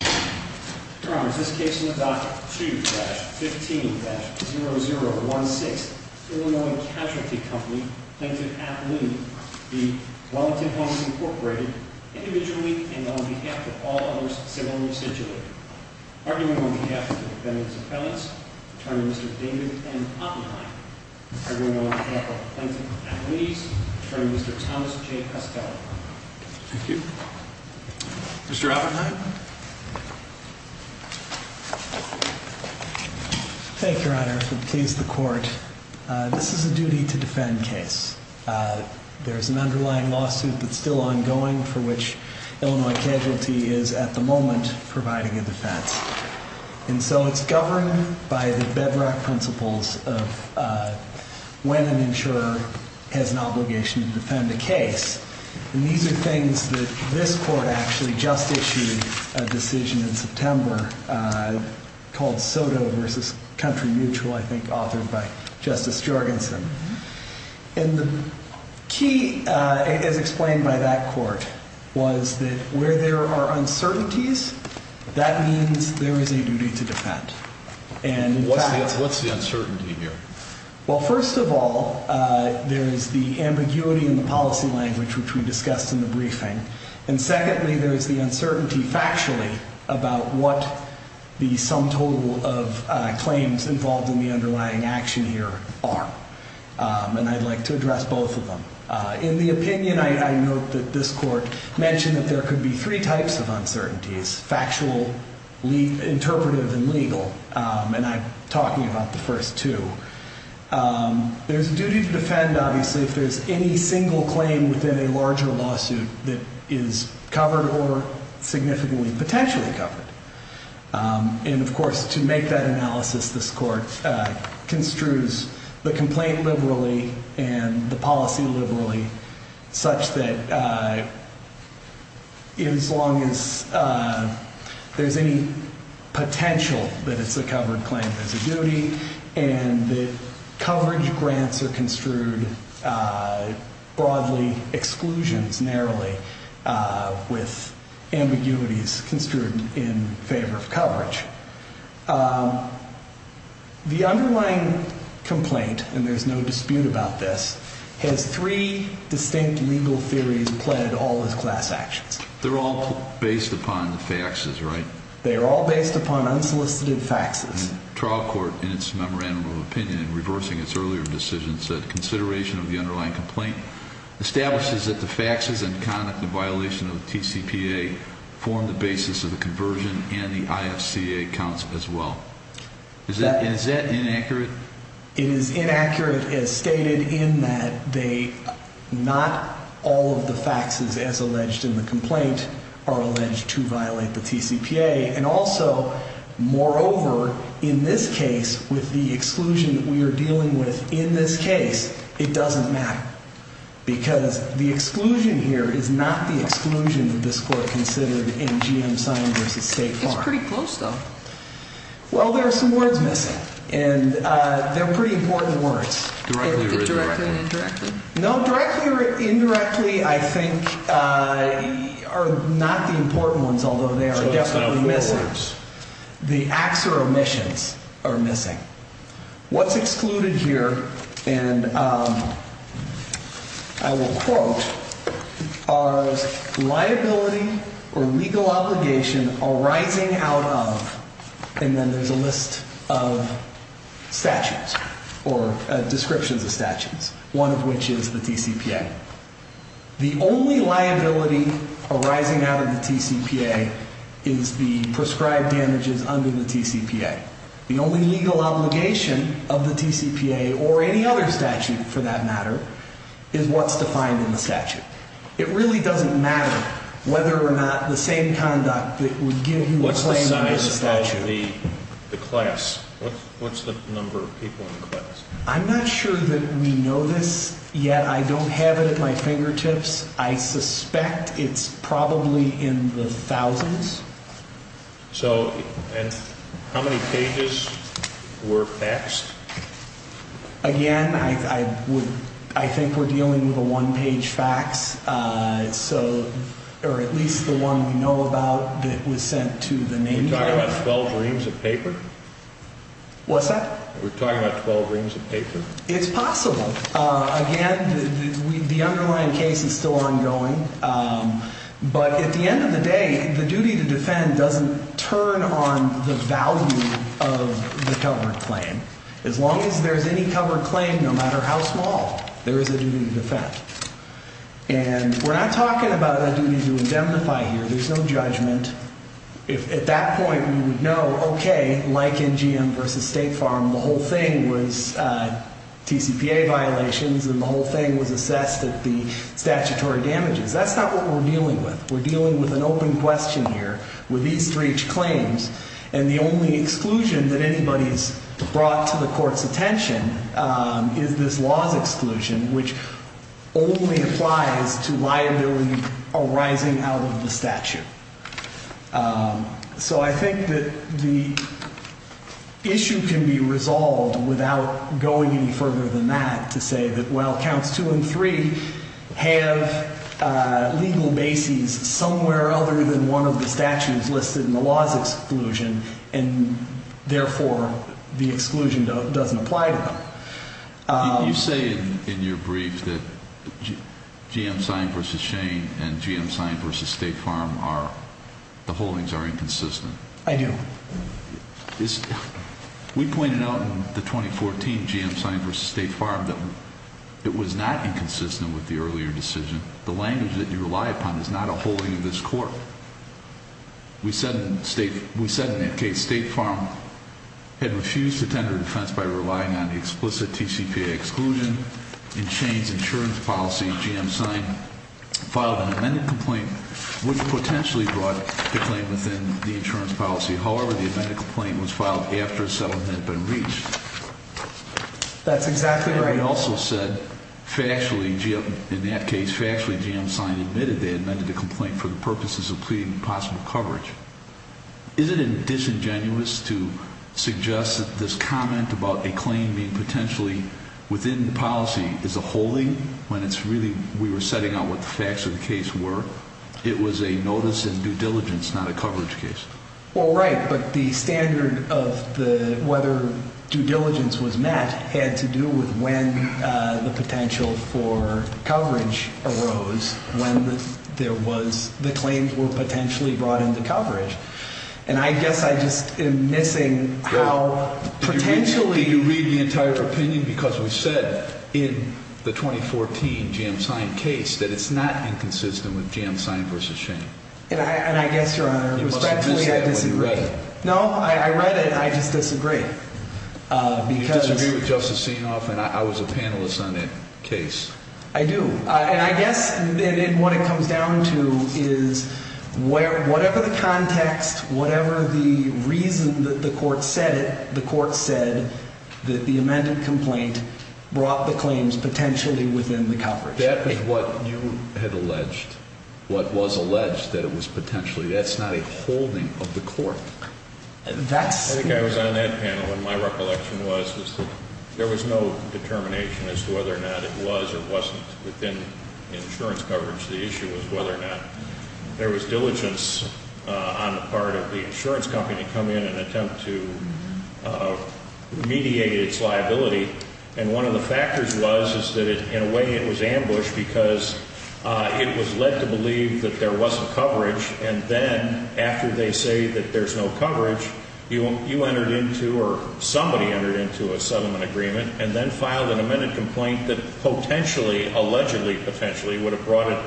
Your Honor, this case is on Docket 2-15-0016, Illinois Casualty Company, Plaintiff Appellee v. Wellington Homes, Inc., individually and on behalf of all others civilly situated. Arguing on behalf of the defendants' appellants, Attorney Mr. David M. Oppenheim. Arguing on behalf of the plaintiff's attorneys, Attorney Mr. Thomas J. Costello. Thank you. Mr. Oppenheim. Thank you, Your Honor, for the case to the court. This is a duty to defend case. There's an underlying lawsuit that's still ongoing for which Illinois Casualty is, at the moment, providing a defense. And so it's governed by the bedrock principles of when an insurer has an obligation to defend a case. And these are things that this court actually just issued a decision in September called SOTO v. Country Mutual, I think, authored by Justice Jorgensen. And the key, as explained by that court, was that where there are uncertainties, that means there is a duty to defend. What's the uncertainty here? Well, first of all, there is the ambiguity in the policy language, which we discussed in the briefing. And secondly, there is the uncertainty factually about what the sum total of claims involved in the underlying action here are. And I'd like to address both of them. In the opinion, I note that this court mentioned that there could be three types of uncertainties, factual, interpretive, and legal. And I'm talking about the first two. There's a duty to defend, obviously, if there's any single claim within a larger lawsuit that is covered or significantly potentially covered. And, of course, to make that analysis, this court construes the complaint liberally and the policy liberally, such that as long as there's any potential that it's a covered claim, there's a duty. And the coverage grants are construed broadly, exclusions narrowly, with ambiguities construed in favor of coverage. The underlying complaint, and there's no dispute about this, has three distinct legal theories that play into all those class actions. They're all based upon the faxes, right? They are all based upon unsolicited faxes. And the trial court, in its memorandum of opinion, in reversing its earlier decision, said consideration of the underlying complaint establishes that the faxes and conduct of violation of the TCPA form the basis of the conversion and the IFCA counts as well. Is that inaccurate? It is inaccurate, as stated, in that not all of the faxes, as alleged in the complaint, are alleged to violate the TCPA. And also, moreover, in this case, with the exclusion that we are dealing with in this case, it doesn't matter. Because the exclusion here is not the exclusion that this court considered in GM signed v. State Farm. It's pretty close, though. Well, there are some words missing, and they're pretty important words. Directly or indirectly? No, directly or indirectly, I think, are not the important ones, although they are definitely missing. The acts or omissions are missing. What's excluded here, and I will quote, are liability or legal obligation arising out of, and then there's a list of statutes or descriptions of statutes, one of which is the TCPA. The only liability arising out of the TCPA is the prescribed damages under the TCPA. The only legal obligation of the TCPA, or any other statute for that matter, is what's defined in the statute. It really doesn't matter whether or not the same conduct that would give you the claim under the statute. What's the size of the class? I'm not sure that we know this yet. I don't have it at my fingertips. I suspect it's probably in the thousands. So, and how many pages were faxed? Again, I would, I think we're dealing with a one-page fax, so, or at least the one we know about that was sent to the name dealer. Are you talking about 12 reams of paper? What's that? We're talking about 12 reams of paper. It's possible. Again, the underlying case is still ongoing. But at the end of the day, the duty to defend doesn't turn on the value of the covered claim. As long as there's any covered claim, no matter how small, there is a duty to defend. And we're not talking about a duty to indemnify here. There's no judgment. At that point, we would know, okay, like in GM versus State Farm, the whole thing was TCPA violations, and the whole thing was assessed at the statutory damages. That's not what we're dealing with. We're dealing with an open question here with these three claims. And the only exclusion that anybody's brought to the court's attention is this laws exclusion, which only applies to liability arising out of the statute. So I think that the issue can be resolved without going any further than that to say that, well, we have legal bases somewhere other than one of the statutes listed in the laws exclusion, and therefore the exclusion doesn't apply to them. You say in your brief that GM signed versus Shane and GM signed versus State Farm, the holdings are inconsistent. I do. We pointed out in the 2014 GM signed versus State Farm that it was not inconsistent with the earlier decision. The language that you rely upon is not a holding of this court. We said in that case State Farm had refused to tender defense by relying on the explicit TCPA exclusion. In Shane's insurance policy, GM signed, filed an amended complaint, which potentially brought the claim within the insurance policy. However, the amended complaint was filed after a settlement had been reached. That's exactly right. And we also said factually, in that case, factually GM signed, admitted they amended the complaint for the purposes of pleading possible coverage. Isn't it disingenuous to suggest that this comment about a claim being potentially within the policy is a holding when it's really we were setting out what the facts of the case were? It was a notice in due diligence, not a coverage case. Well, right, but the standard of whether due diligence was met had to do with when the potential for coverage arose, when the claims were potentially brought into coverage. And I guess I just am missing how potentially- Did you read the entire opinion? Because we said in the 2014 GM signed case that it's not inconsistent with GM signed versus Shane. And I guess, Your Honor, respectfully I disagree. You must have missed that when you read it. No, I read it and I just disagree. Because- You disagree with Justice Sienoff and I was a panelist on that case. I do. And I guess what it comes down to is whatever the context, whatever the reason that the court said it, the court said that the amended complaint brought the claims potentially within the coverage. But that was what you had alleged, what was alleged that it was potentially. That's not a holding of the court. That's- I think I was on that panel and my recollection was that there was no determination as to whether or not it was or wasn't within insurance coverage. The issue was whether or not there was diligence on the part of the insurance company to come in and attempt to mediate its liability. And one of the factors was is that in a way it was ambushed because it was led to believe that there wasn't coverage. And then after they say that there's no coverage, you entered into or somebody entered into a settlement agreement and then filed an amended complaint that potentially, allegedly potentially, would have brought it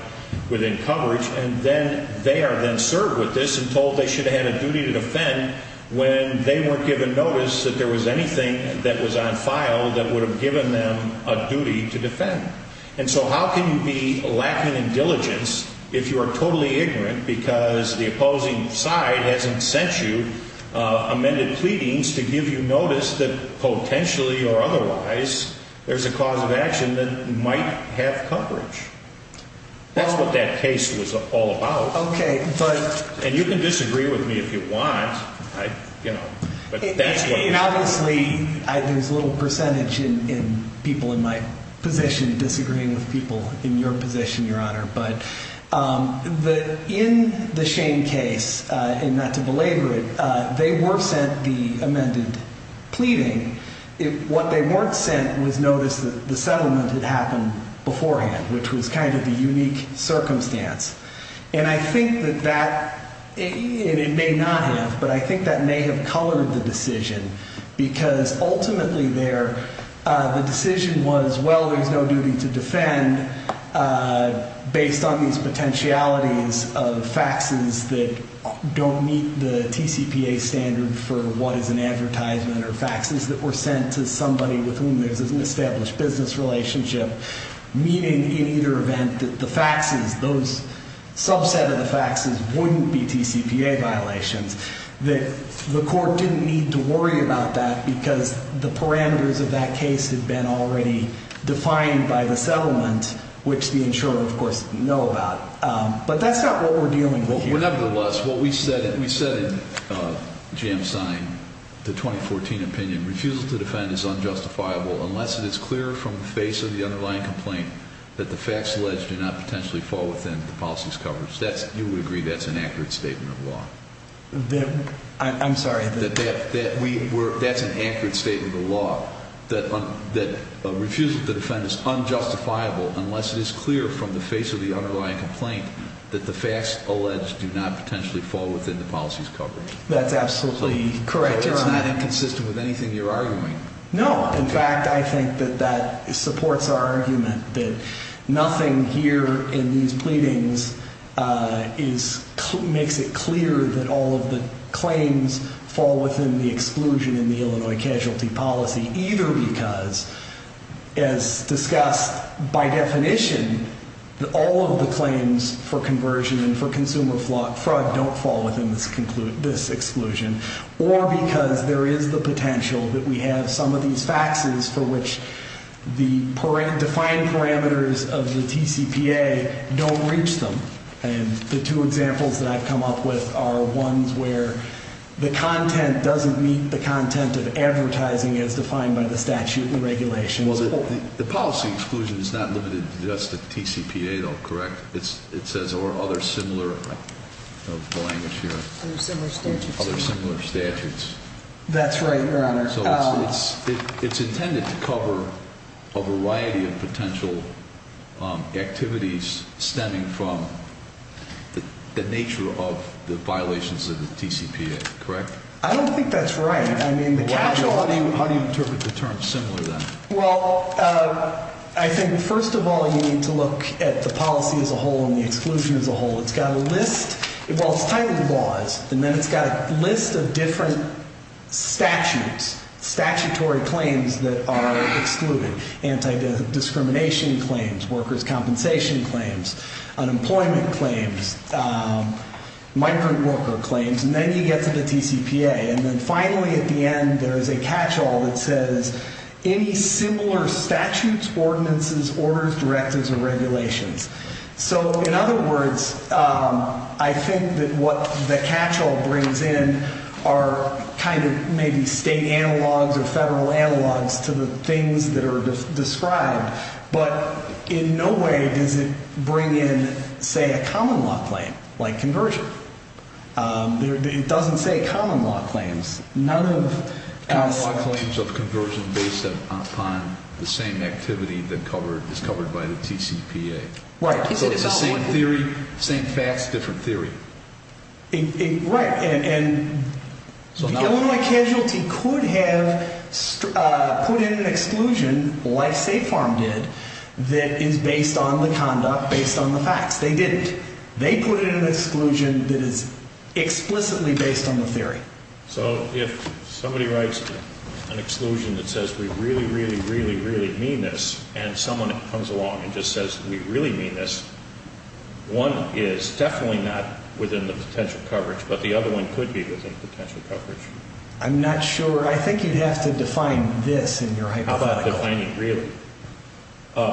within coverage. And then they are then served with this and told they should have had a duty to defend when they weren't given notice that there was anything that was on file that would have given them a duty to defend. And so how can you be lacking in diligence if you are totally ignorant because the opposing side hasn't sent you amended pleadings to give you notice that potentially or otherwise there's a cause of action that might have coverage. That's what that case was all about. Okay, but. And you can disagree with me if you want, you know, but that's what. And obviously there's a little percentage in people in my position disagreeing with people in your position, Your Honor. But in the Shane case, and not to belabor it, they were sent the amended pleading. What they weren't sent was notice that the settlement had happened beforehand, which was kind of the unique circumstance. And I think that that, and it may not have, but I think that may have colored the decision because ultimately there, the decision was, well, there's no duty to defend based on these potentialities of faxes that don't meet the TCPA standard for what is an advertisement or faxes that were sent to somebody with whom there's an established business relationship. Meaning in either event that the faxes, those subset of the faxes wouldn't be TCPA violations, that the court didn't need to worry about that because the parameters of that case had been already defined by the settlement, which the insurer, of course, know about. But that's not what we're dealing with here. But nevertheless, what we said in Jamstein, the 2014 opinion, refusal to defend is unjustifiable unless it is clear from the face of the underlying complaint that the facts alleged do not potentially fall within the policy's coverage. You would agree that's an accurate statement of law? I'm sorry. That's an accurate statement of law, that refusal to defend is unjustifiable unless it is clear from the face of the underlying complaint that the facts alleged do not potentially fall within the policy's coverage. That's absolutely correct, Your Honor. So it's not inconsistent with anything you're arguing? No. In fact, I think that that supports our argument that nothing here in these pleadings makes it clear that all of the claims fall within the exclusion in the Illinois casualty policy, either because, as discussed by definition, all of the claims for conversion and for consumer fraud don't fall within this exclusion, or because there is the potential that we have some of these faxes for which the defined parameters of the TCPA don't reach them. And the two examples that I've come up with are ones where the content doesn't meet the content of advertising as defined by the statute and regulations. Well, the policy exclusion is not limited to just the TCPA, though, correct? It says, or other similar language here. Other similar statutes. Other similar statutes. That's right, Your Honor. So it's intended to cover a variety of potential activities stemming from the nature of the violations of the TCPA, correct? I don't think that's right. How do you interpret the term similar, then? Well, I think, first of all, you need to look at the policy as a whole and the exclusion as a whole. It's got a list. Well, it's titled laws. And then it's got a list of different statutes, statutory claims that are excluded, anti-discrimination claims, workers' compensation claims, unemployment claims, migrant worker claims. And then you get to the TCPA. And then finally, at the end, there is a catch-all that says, any similar statutes, ordinances, orders, directives, or regulations. So, in other words, I think that what the catch-all brings in are kind of maybe state analogs or federal analogs to the things that are described. But in no way does it bring in, say, a common law claim like conversion. It doesn't say common law claims. Common law claims of conversion based upon the same activity that is covered by the TCPA. Right. So it's the same theory, same facts, different theory. Right. And Illinois Casualty could have put in an exclusion, like State Farm did, that is based on the conduct, based on the facts. They didn't. They put in an exclusion that is explicitly based on the theory. So if somebody writes an exclusion that says, we really, really, really, really mean this, and someone comes along and just says, we really mean this, one is definitely not within the potential coverage, but the other one could be within potential coverage. I'm not sure. I think you'd have to define this in your hypothetical. How about defining really?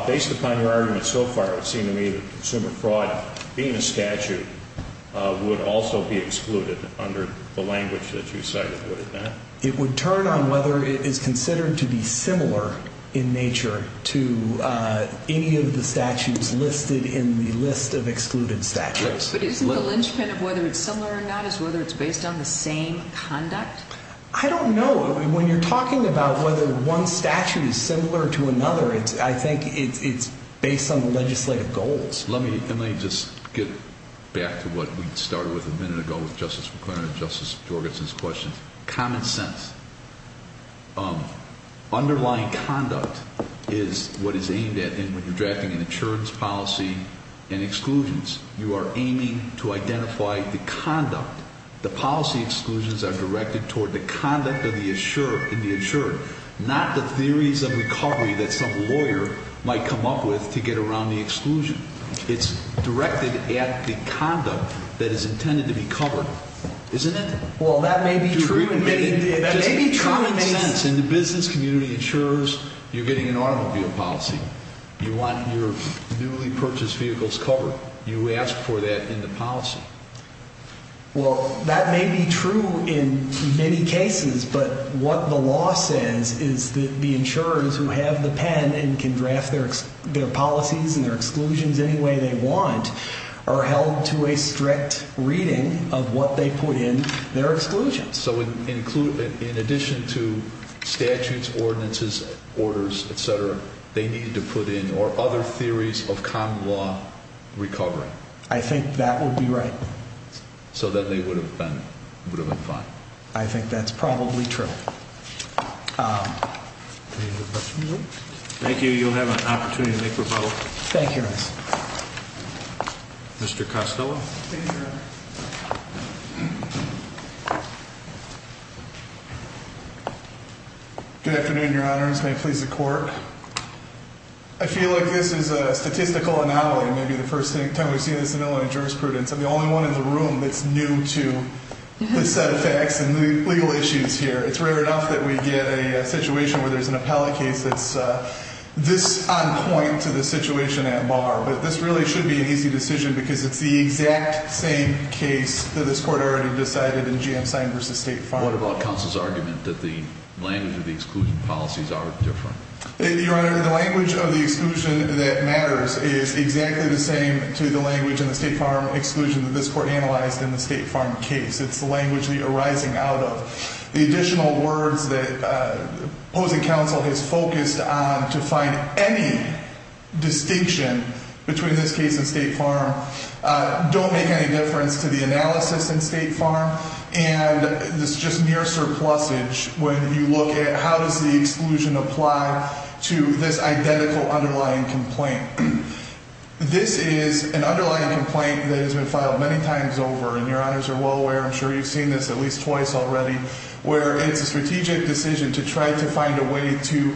Based upon your argument so far, it would seem to me that consumer fraud, being a statute, would also be excluded under the language that you cited, wouldn't it? It would turn on whether it is considered to be similar in nature to any of the statutes listed in the list of excluded statutes. Yes. But isn't the linchpin of whether it's similar or not is whether it's based on the same conduct? I don't know. When you're talking about whether one statute is similar to another, I think it's based on the legislative goals. Let me just get back to what we started with a minute ago with Justice McClernand and Justice Jorgensen's questions. Common sense. Underlying conduct is what is aimed at. And when you're drafting an insurance policy and exclusions, you are aiming to identify the conduct. The policy exclusions are directed toward the conduct of the insured, not the theories of recovery that some lawyer might come up with to get around the exclusion. It's directed at the conduct that is intended to be covered, isn't it? Well, that may be true. It doesn't make sense. In the business community, insurers, you're getting an automobile policy. You want your newly purchased vehicles covered. You ask for that in the policy. Well, that may be true in many cases, but what the law says is that the insurers who have the pen and can draft their policies and their exclusions any way they want are held to a strict reading of what they put in their exclusions. So in addition to statutes, ordinances, orders, et cetera, they need to put in other theories of common law recovery. I think that would be right. So that they would have been fine. I think that's probably true. Thank you. You'll have an opportunity to make rebuttal. Thank you, Your Honor. Mr. Costello. Thank you, Your Honor. Good afternoon, Your Honors. May it please the Court. I feel like this is a statistical anomaly. Maybe the first time we've seen this in Illinois jurisprudence. I'm the only one in the room that's new to this set of facts and legal issues here. It's rare enough that we get a situation where there's an appellate case that's this on point to the situation at bar. But this really should be an easy decision because it's the exact same case that this Court already decided in GM signed versus state filed. What about counsel's argument that the language of the exclusion policies are different? Your Honor, the language of the exclusion that matters is exactly the same to the language in the State Farm exclusion that this Court analyzed in the State Farm case. It's the language that you're arising out of. The additional words that opposing counsel has focused on to find any distinction between this case and State Farm don't make any difference to the analysis in State Farm. And it's just mere surplusage when you look at how does the exclusion apply to this identical underlying complaint. This is an underlying complaint that has been filed many times over. And Your Honors are well aware, I'm sure you've seen this at least twice already, where it's a strategic decision to try to find a way to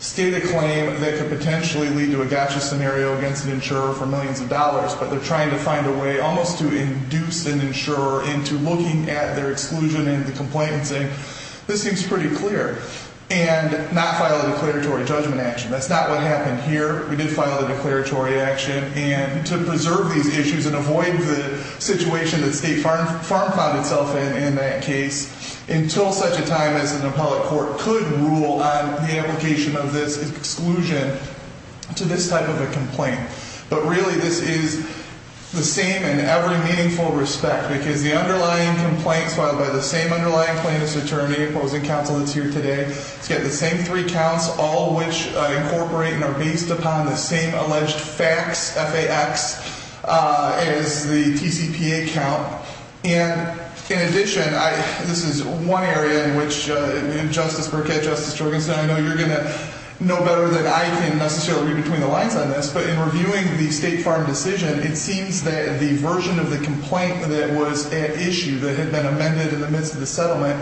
state a claim that could potentially lead to a gotcha scenario against an insurer for millions of dollars. But they're trying to find a way almost to induce an insurer into looking at their exclusion and the complaints. And this seems pretty clear. And not file a declaratory judgment action. That's not what happened here. We did file a declaratory action. And to preserve these issues and avoid the situation that State Farm found itself in in that case until such a time as an appellate court could rule on the application of this exclusion to this type of a complaint. But really this is the same in every meaningful respect. Because the underlying complaints filed by the same underlying plaintiff's attorney, opposing counsel that's here today, it's got the same three counts, all of which incorporate and are based upon the same alleged facts, F-A-X, as the TCPA count. And in addition, this is one area in which Justice Burkett, Justice Jorgensen, I know you're going to know better than I can necessarily read between the lines on this. But in reviewing the State Farm decision, it seems that the version of the complaint that was at issue that had been amended in the midst of the settlement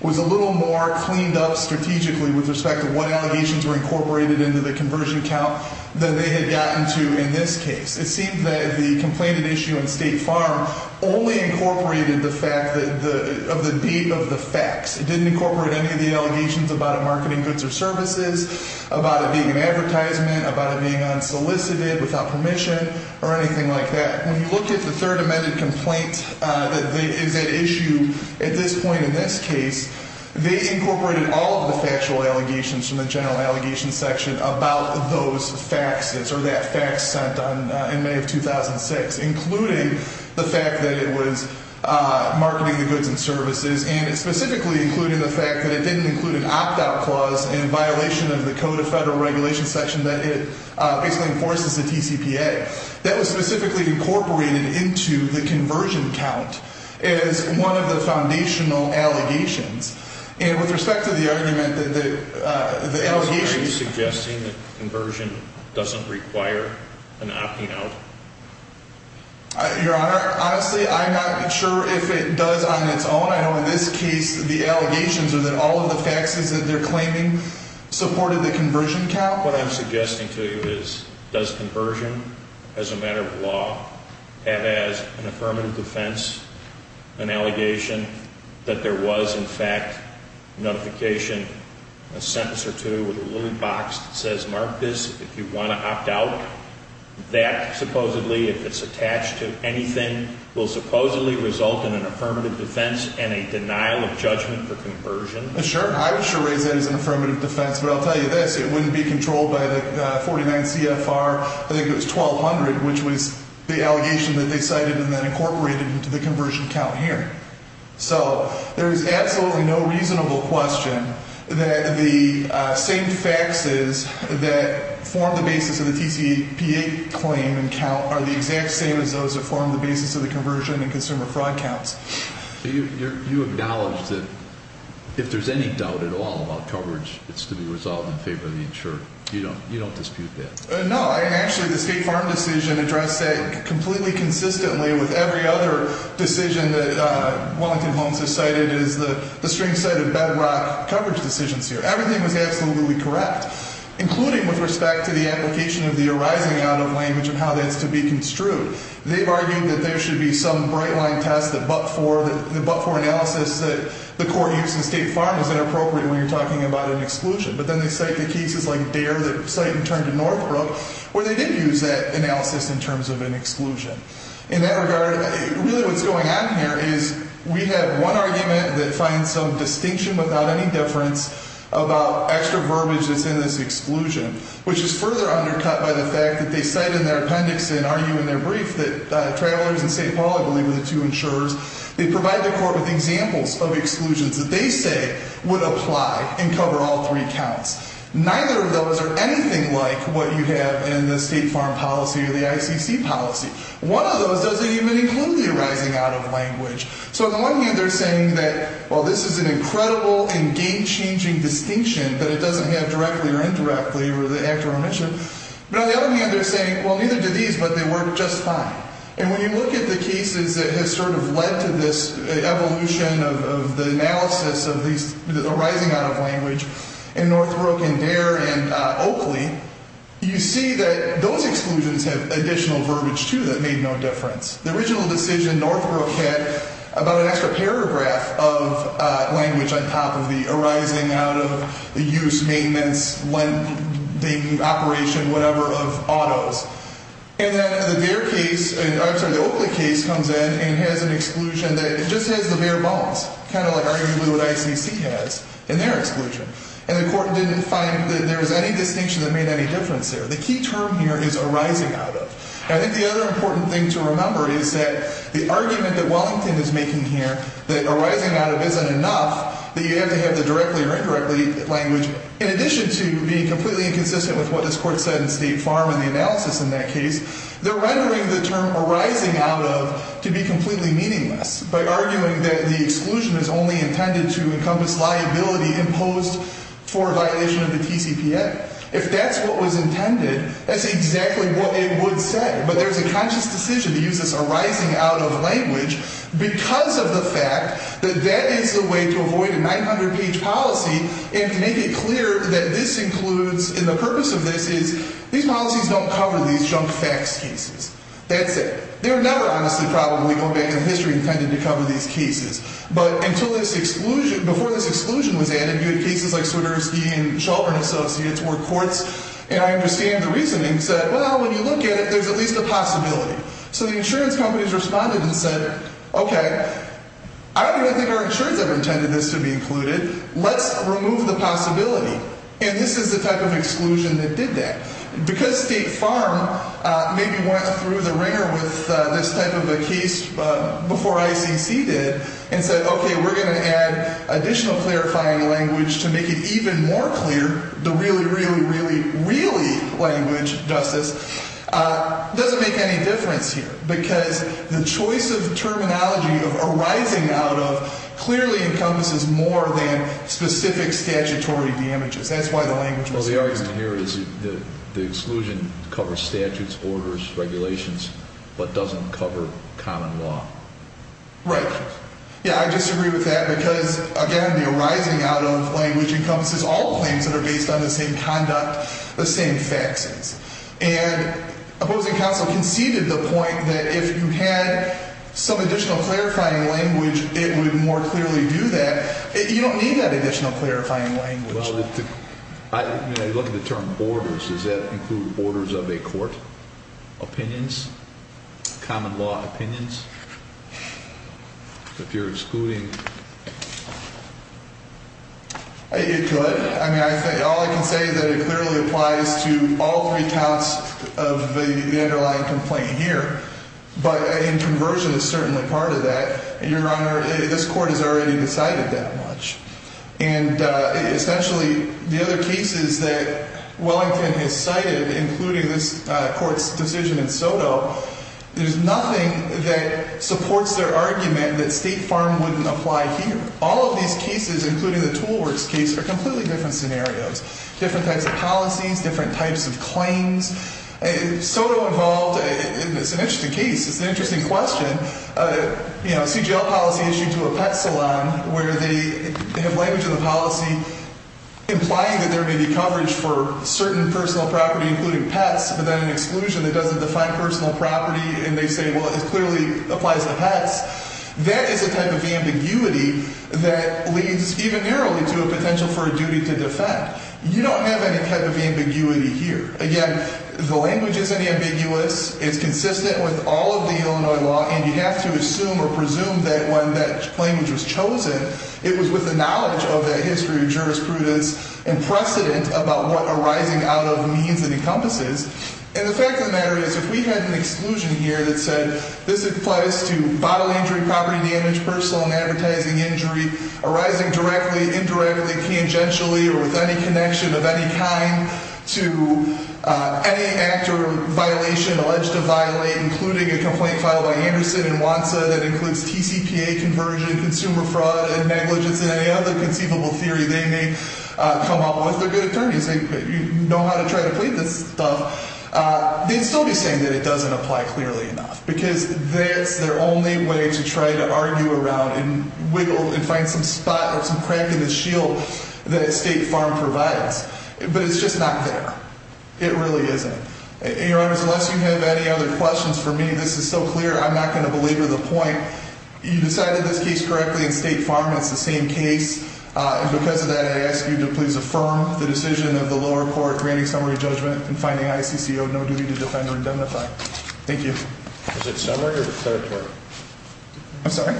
was a little more cleaned up strategically with respect to what allegations were incorporated into the conversion count than they had gotten to in this case. It seems that the complaint at issue in State Farm only incorporated the fact of the beat of the facts. It didn't incorporate any of the allegations about it marketing goods or services, about it being an advertisement, about it being unsolicited, without permission, or anything like that. When you look at the third amended complaint that is at issue at this point in this case, they incorporated all of the factual allegations from the general allegations section about those facts, or that fact sent in May of 2006, including the fact that it was marketing the goods and services. And it's specifically including the fact that it didn't include an opt-out clause in violation of the Code of Federal Regulations section that basically enforces the TCPA. That was specifically incorporated into the conversion count as one of the foundational allegations. And with respect to the argument that the allegations… Are you suggesting that conversion doesn't require an opting out? Your Honor, honestly, I'm not sure if it does on its own. I know in this case the allegations are that all of the facts that they're claiming supported the conversion count. Mark, what I'm suggesting to you is, does conversion as a matter of law have as an affirmative defense an allegation that there was, in fact, notification, a sentence or two, with a little box that says mark this if you want to opt out? That supposedly, if it's attached to anything, will supposedly result in an affirmative defense and a denial of judgment for conversion? Sure. I would sure raise that as an affirmative defense. But I'll tell you this. It wouldn't be controlled by the 49 CFR, I think it was 1200, which was the allegation that they cited and then incorporated into the conversion count here. So there is absolutely no reasonable question that the same faxes that form the basis of the TCPA claim and count are the exact same as those that form the basis of the conversion and consumer fraud counts. You acknowledge that if there's any doubt at all about coverage, it's to be resolved in favor of the insured. You don't dispute that? No. Actually, the State Farm decision addressed that completely consistently with every other decision that Wellington Homes has cited as the strange side of bedrock coverage decisions here. Everything was absolutely correct, including with respect to the application of the arising out of language of how that's to be construed. They've argued that there should be some bright-line test, the but-for, the but-for analysis that the court used in State Farm is inappropriate when you're talking about an exclusion. But then they cite the cases like Dare that cite and turn to Northbrook where they did use that analysis in terms of an exclusion. In that regard, really what's going on here is we have one argument that finds some distinction without any deference about extra verbiage that's in this exclusion, which is further undercut by the fact that they cite in their appendix and argue in their brief that Travelers and State Poly, believe it or not, the two insurers, they provide the court with examples of exclusions that they say would apply and cover all three counts. Neither of those are anything like what you have in the State Farm policy or the ICC policy. One of those doesn't even include the arising out of language. So on the one hand, they're saying that, well, this is an incredible and game-changing distinction that it doesn't have directly or indirectly or the actor I mentioned. But on the other hand, they're saying, well, neither do these, but they work just fine. And when you look at the cases that have sort of led to this evolution of the analysis of these arising out of language in Northbrook and Dare and Oakley, you see that those exclusions have additional verbiage, too, that made no difference. The original decision Northbrook had about an extra paragraph of language on top of the arising out of, the use, maintenance, lending, operation, whatever, of autos. And then the Dare case, I'm sorry, the Oakley case comes in and has an exclusion that just has the bare bones, kind of like arguably what ICC has in their exclusion. And the court didn't find that there was any distinction that made any difference there. The key term here is arising out of. And I think the other important thing to remember is that the argument that Wellington is making here, that arising out of isn't enough, that you have to have the directly or indirectly language, in addition to being completely inconsistent with what this court said in State Farm in the analysis in that case, they're rendering the term arising out of to be completely meaningless by arguing that the exclusion is only intended to encompass liability imposed for a violation of the TCPA. If that's what was intended, that's exactly what it would say. But there's a conscious decision to use this arising out of language because of the fact that that is the way to avoid a 900-page policy and to make it clear that this includes, and the purpose of this is, these policies don't cover these junk facts cases. That's it. They're never honestly probably, going back in history, intended to cover these cases. But until this exclusion, before this exclusion was added, you had cases like Swiderski and Shelburne Associates where courts, and I understand the reasoning, said, well, when you look at it, there's at least a possibility. So the insurance companies responded and said, OK, I don't really think our insurance ever intended this to be included. Let's remove the possibility. And this is the type of exclusion that did that. So because State Farm maybe went through the wringer with this type of a case before ICC did and said, OK, we're going to add additional clarifying language to make it even more clear, the really, really, really, really language, Justice, doesn't make any difference here because the choice of terminology of arising out of clearly encompasses more than specific statutory damages. That's why the language was chosen. Well, the argument here is the exclusion covers statutes, orders, regulations, but doesn't cover common law. Right. Yeah, I disagree with that because, again, the arising out of language encompasses all claims that are based on the same conduct, the same facts. And opposing counsel conceded the point that if you had some additional clarifying language, it would more clearly do that. You don't need that additional clarifying language. Well, I mean, I look at the term orders. Does that include orders of a court? Opinions? Common law opinions? If you're excluding... It could. I mean, all I can say is that it clearly applies to all three counts of the underlying complaint here. But in conversion, it's certainly part of that. Your Honor, this court has already decided that much. And essentially, the other cases that Wellington has cited, including this court's decision in Soto, there's nothing that supports their argument that State Farm wouldn't apply here. All of these cases, including the Tool Works case, are completely different scenarios, different types of policies, different types of claims. Soto involved, and it's an interesting case. It's an interesting question. You know, a CGL policy issued to a pet salon where they have language in the policy implying that there may be coverage for certain personal property, including pets, but then an exclusion that doesn't define personal property. And they say, well, it clearly applies to pets. That is a type of ambiguity that leads even narrowly to a potential for a duty to defend. You don't have any type of ambiguity here. Again, the language isn't ambiguous. It's consistent with all of the Illinois law. And you have to assume or presume that when that language was chosen, it was with the knowledge of that history of jurisprudence and precedent about what arising out of means and encompasses. And the fact of the matter is, if we had an exclusion here that said this applies to bodily injury, property damage, personal and advertising injury arising directly, indirectly, tangentially, or with any connection of any kind to any act or violation alleged to violate, including a complaint filed by Anderson and Wantsa that includes TCPA conversion, consumer fraud and negligence and any other conceivable theory, they may come up with a good attorney. Because they know how to try to plead this stuff. They'd still be saying that it doesn't apply clearly enough. Because that's their only way to try to argue around and wiggle and find some spot or some crack in the shield that State Farm provides. But it's just not there. It really isn't. And, Your Honors, unless you have any other questions for me, this is so clear, I'm not going to belabor the point. You decided this case correctly in State Farm. It's the same case. And because of that, I ask you to please affirm the decision of the lower court granting summary judgment and finding ICCO no duty to defend or indemnify. Thank you. Was it summary or declaratory? I'm sorry?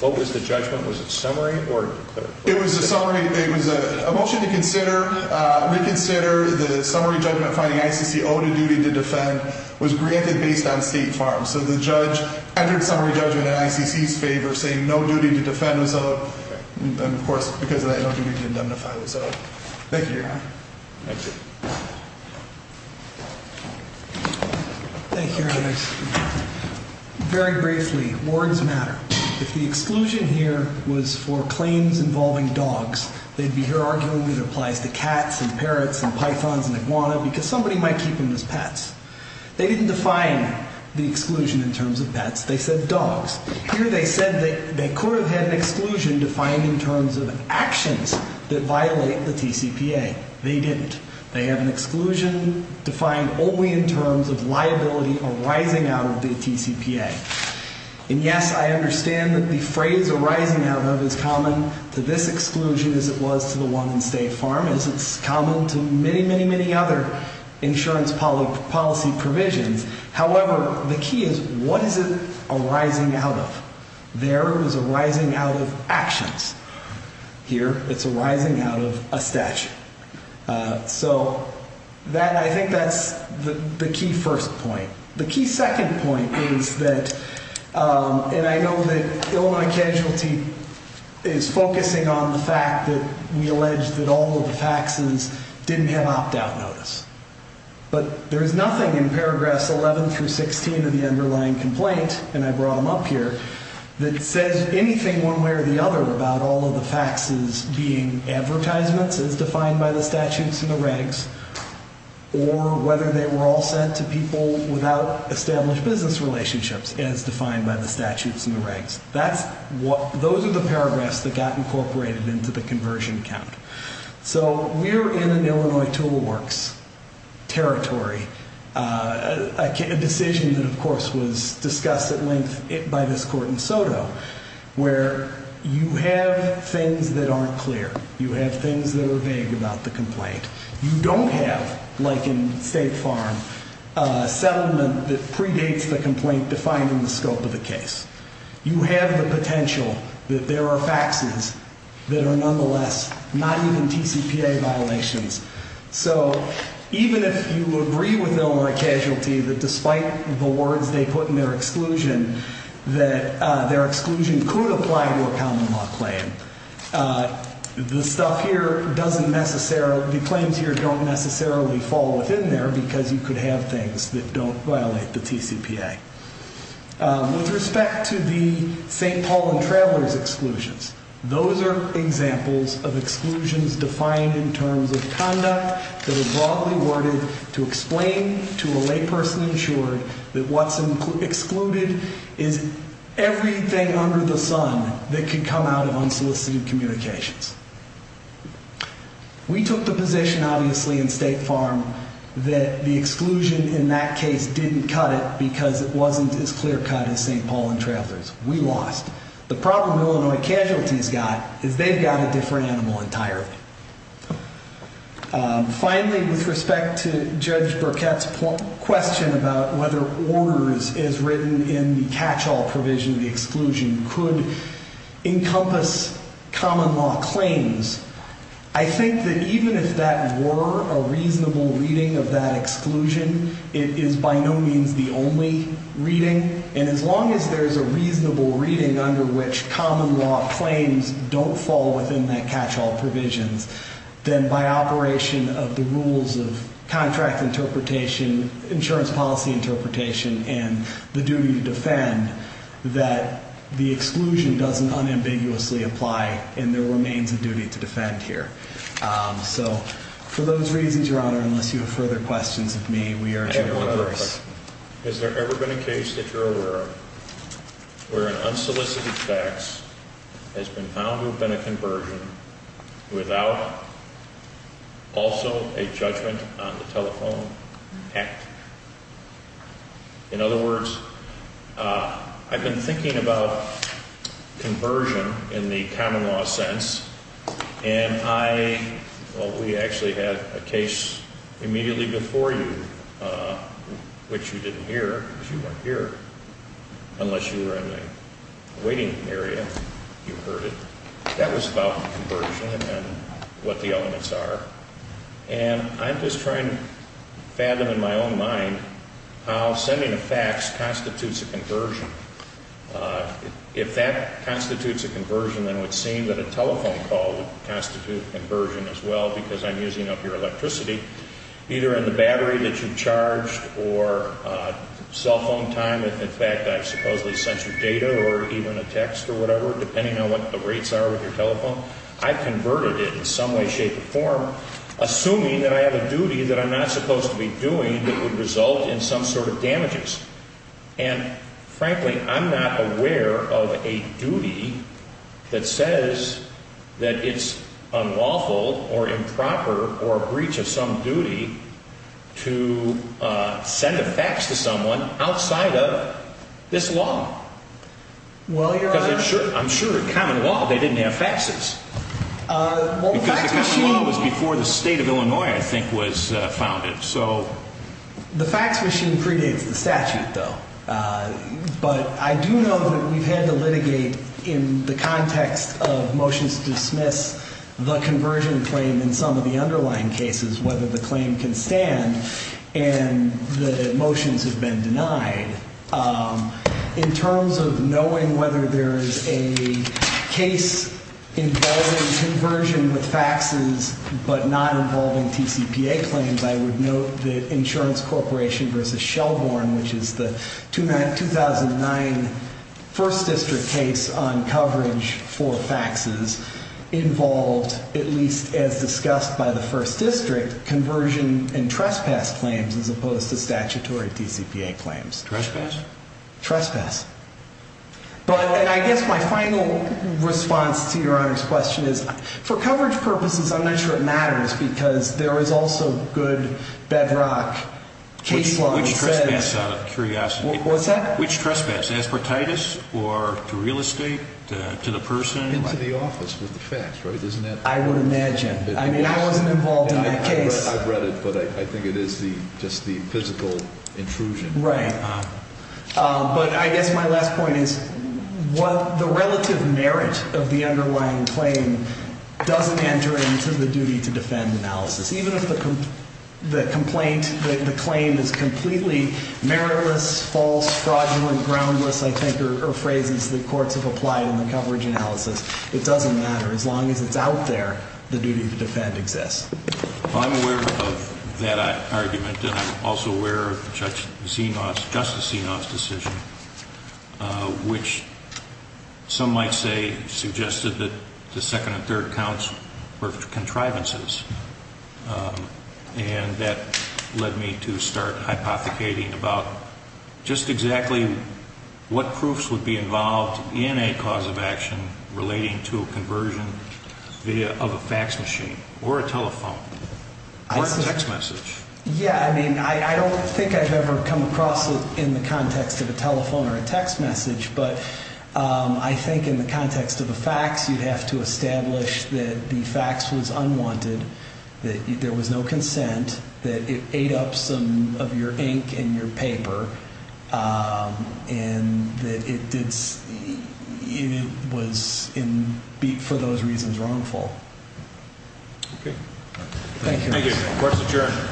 What was the judgment? Was it summary or declaratory? It was a summary. It was a motion to consider, reconsider the summary judgment finding ICCO to duty to defend was granted based on State Farm. So the judge entered summary judgment in ICC's favor, saying no duty to defend was owed. And, of course, because of that, no duty to indemnify was owed. Thank you, Your Honor. Thank you. Thank you, Your Honors. Very briefly, words matter. If the exclusion here was for claims involving dogs, they'd be here arguing that it applies to cats and parrots and pythons and iguanas because somebody might keep them as pets. They didn't define the exclusion in terms of pets. They said dogs. Here they said they could have had an exclusion defined in terms of actions that violate the TCPA. They didn't. They have an exclusion defined only in terms of liability arising out of the TCPA. And, yes, I understand that the phrase arising out of is common to this exclusion as it was to the one in State Farm, as it's common to many, many, many other insurance policy provisions. However, the key is what is it arising out of? There it was arising out of actions. Here it's arising out of a statute. So I think that's the key first point. The key second point is that, and I know that Illinois Casualty is focusing on the fact that we allege that all of the faxes didn't have opt-out notice. But there is nothing in paragraphs 11 through 16 of the underlying complaint, and I brought them up here, that says anything one way or the other about all of the faxes being advertisements as defined by the statutes and the regs, or whether they were all sent to people without established business relationships as defined by the statutes and the regs. Those are the paragraphs that got incorporated into the conversion count. So we're in an Illinois Tool Works territory, a decision that, of course, was discussed at length by this court in Soto, where you have things that aren't clear. You have things that are vague about the complaint. You don't have, like in State Farm, a settlement that predates the complaint defined in the scope of the case. You have the potential that there are faxes that are nonetheless not even TCPA violations. So even if you agree with Illinois Casualty that despite the words they put in their exclusion, that their exclusion could apply to a common law claim, the stuff here doesn't necessarily, the claims here don't necessarily fall within there because you could have things that don't violate the TCPA. With respect to the St. Paul and Travelers exclusions, those are examples of exclusions defined in terms of conduct that are broadly worded to explain to a layperson insured that what's excluded is everything under the sun that could come out of unsolicited communications. We took the position, obviously, in State Farm that the exclusion in that case didn't cut it because it wasn't as clear-cut as St. Paul and Travelers. We lost. The problem Illinois Casualty's got is they've got a different animal entirely. Finally, with respect to Judge Burkett's question about whether orders as written in the catch-all provision of the exclusion could encompass common law claims, I think that even if that were a reasonable reading of that exclusion, it is by no means the only reading, and as long as there's a reasonable reading under which common law claims don't fall within that catch-all provision, then by operation of the rules of contract interpretation, insurance policy interpretation, and the duty to defend, that the exclusion doesn't unambiguously apply in their remains of duty to defend here. So for those reasons, Your Honor, unless you have further questions of me, we urge you to reverse. Has there ever been a case that you're aware of where an unsolicited tax has been found to have been a conversion without also a judgment on the telephone act? In other words, I've been thinking about conversion in the common law sense, and I, well, we actually had a case immediately before you, which you didn't hear, because you weren't here unless you were in the waiting area. You heard it. That was about conversion and what the elements are, and I'm just trying to fathom in my own mind how sending a fax constitutes a conversion. If that constitutes a conversion, then it would seem that a telephone call would constitute a conversion as well because I'm using up your electricity, either in the battery that you charged or cell phone time. In fact, I've supposedly censored data or even a text or whatever, depending on what the rates are with your telephone. I've converted it in some way, shape, or form, assuming that I have a duty that I'm not supposed to be doing that would result in some sort of damages. And frankly, I'm not aware of a duty that says that it's unlawful or improper or a breach of some duty to send a fax to someone outside of this law. I'm sure in common law they didn't have faxes. Because the common law was before the state of Illinois, I think, was founded. The fax machine predates the statute, though. But I do know that we've had to litigate in the context of motions to dismiss the conversion claim in some of the underlying cases, whether the claim can stand and the motions have been denied. In terms of knowing whether there is a case involving conversion with faxes but not involving TCPA claims, I would note that Insurance Corporation v. Shelbourne, which is the 2009 First District case on coverage for faxes, involved, at least as discussed by the First District, conversion and trespass claims as opposed to statutory TCPA claims. Trespass. But I guess my final response to Your Honor's question is, for coverage purposes, I'm not sure it matters because there is also good bedrock case law that says... Which trespass, out of curiosity? What's that? Which trespass? Aspertitis or to real estate, to the person? Into the office with the fax, right? I would imagine. I mean, I wasn't involved in that case. I've read it, but I think it is just the physical intrusion. Right. But I guess my last point is, the relative merit of the underlying claim doesn't enter into the duty to defend analysis. Even if the complaint, the claim is completely meritless, false, fraudulent, groundless, I think, are phrases that courts have applied in the coverage analysis, it doesn't matter. As long as it's out there, the duty to defend exists. I'm aware of that argument, and I'm also aware of Justice Senos' decision, which some might say suggested that the second and third counts were contrivances. And that led me to start hypothecating about just exactly what proofs would be involved in a cause of action relating to a conversion of a fax machine or a telephone or a text message. Yeah, I mean, I don't think I've ever come across it in the context of a telephone or a text message, but I think in the context of a fax, you'd have to establish that the fax was unwanted, that there was no consent, that it ate up some of your ink and your paper, and that it was, for those reasons, wrongful. Okay. Thank you. Thank you. Court is adjourned.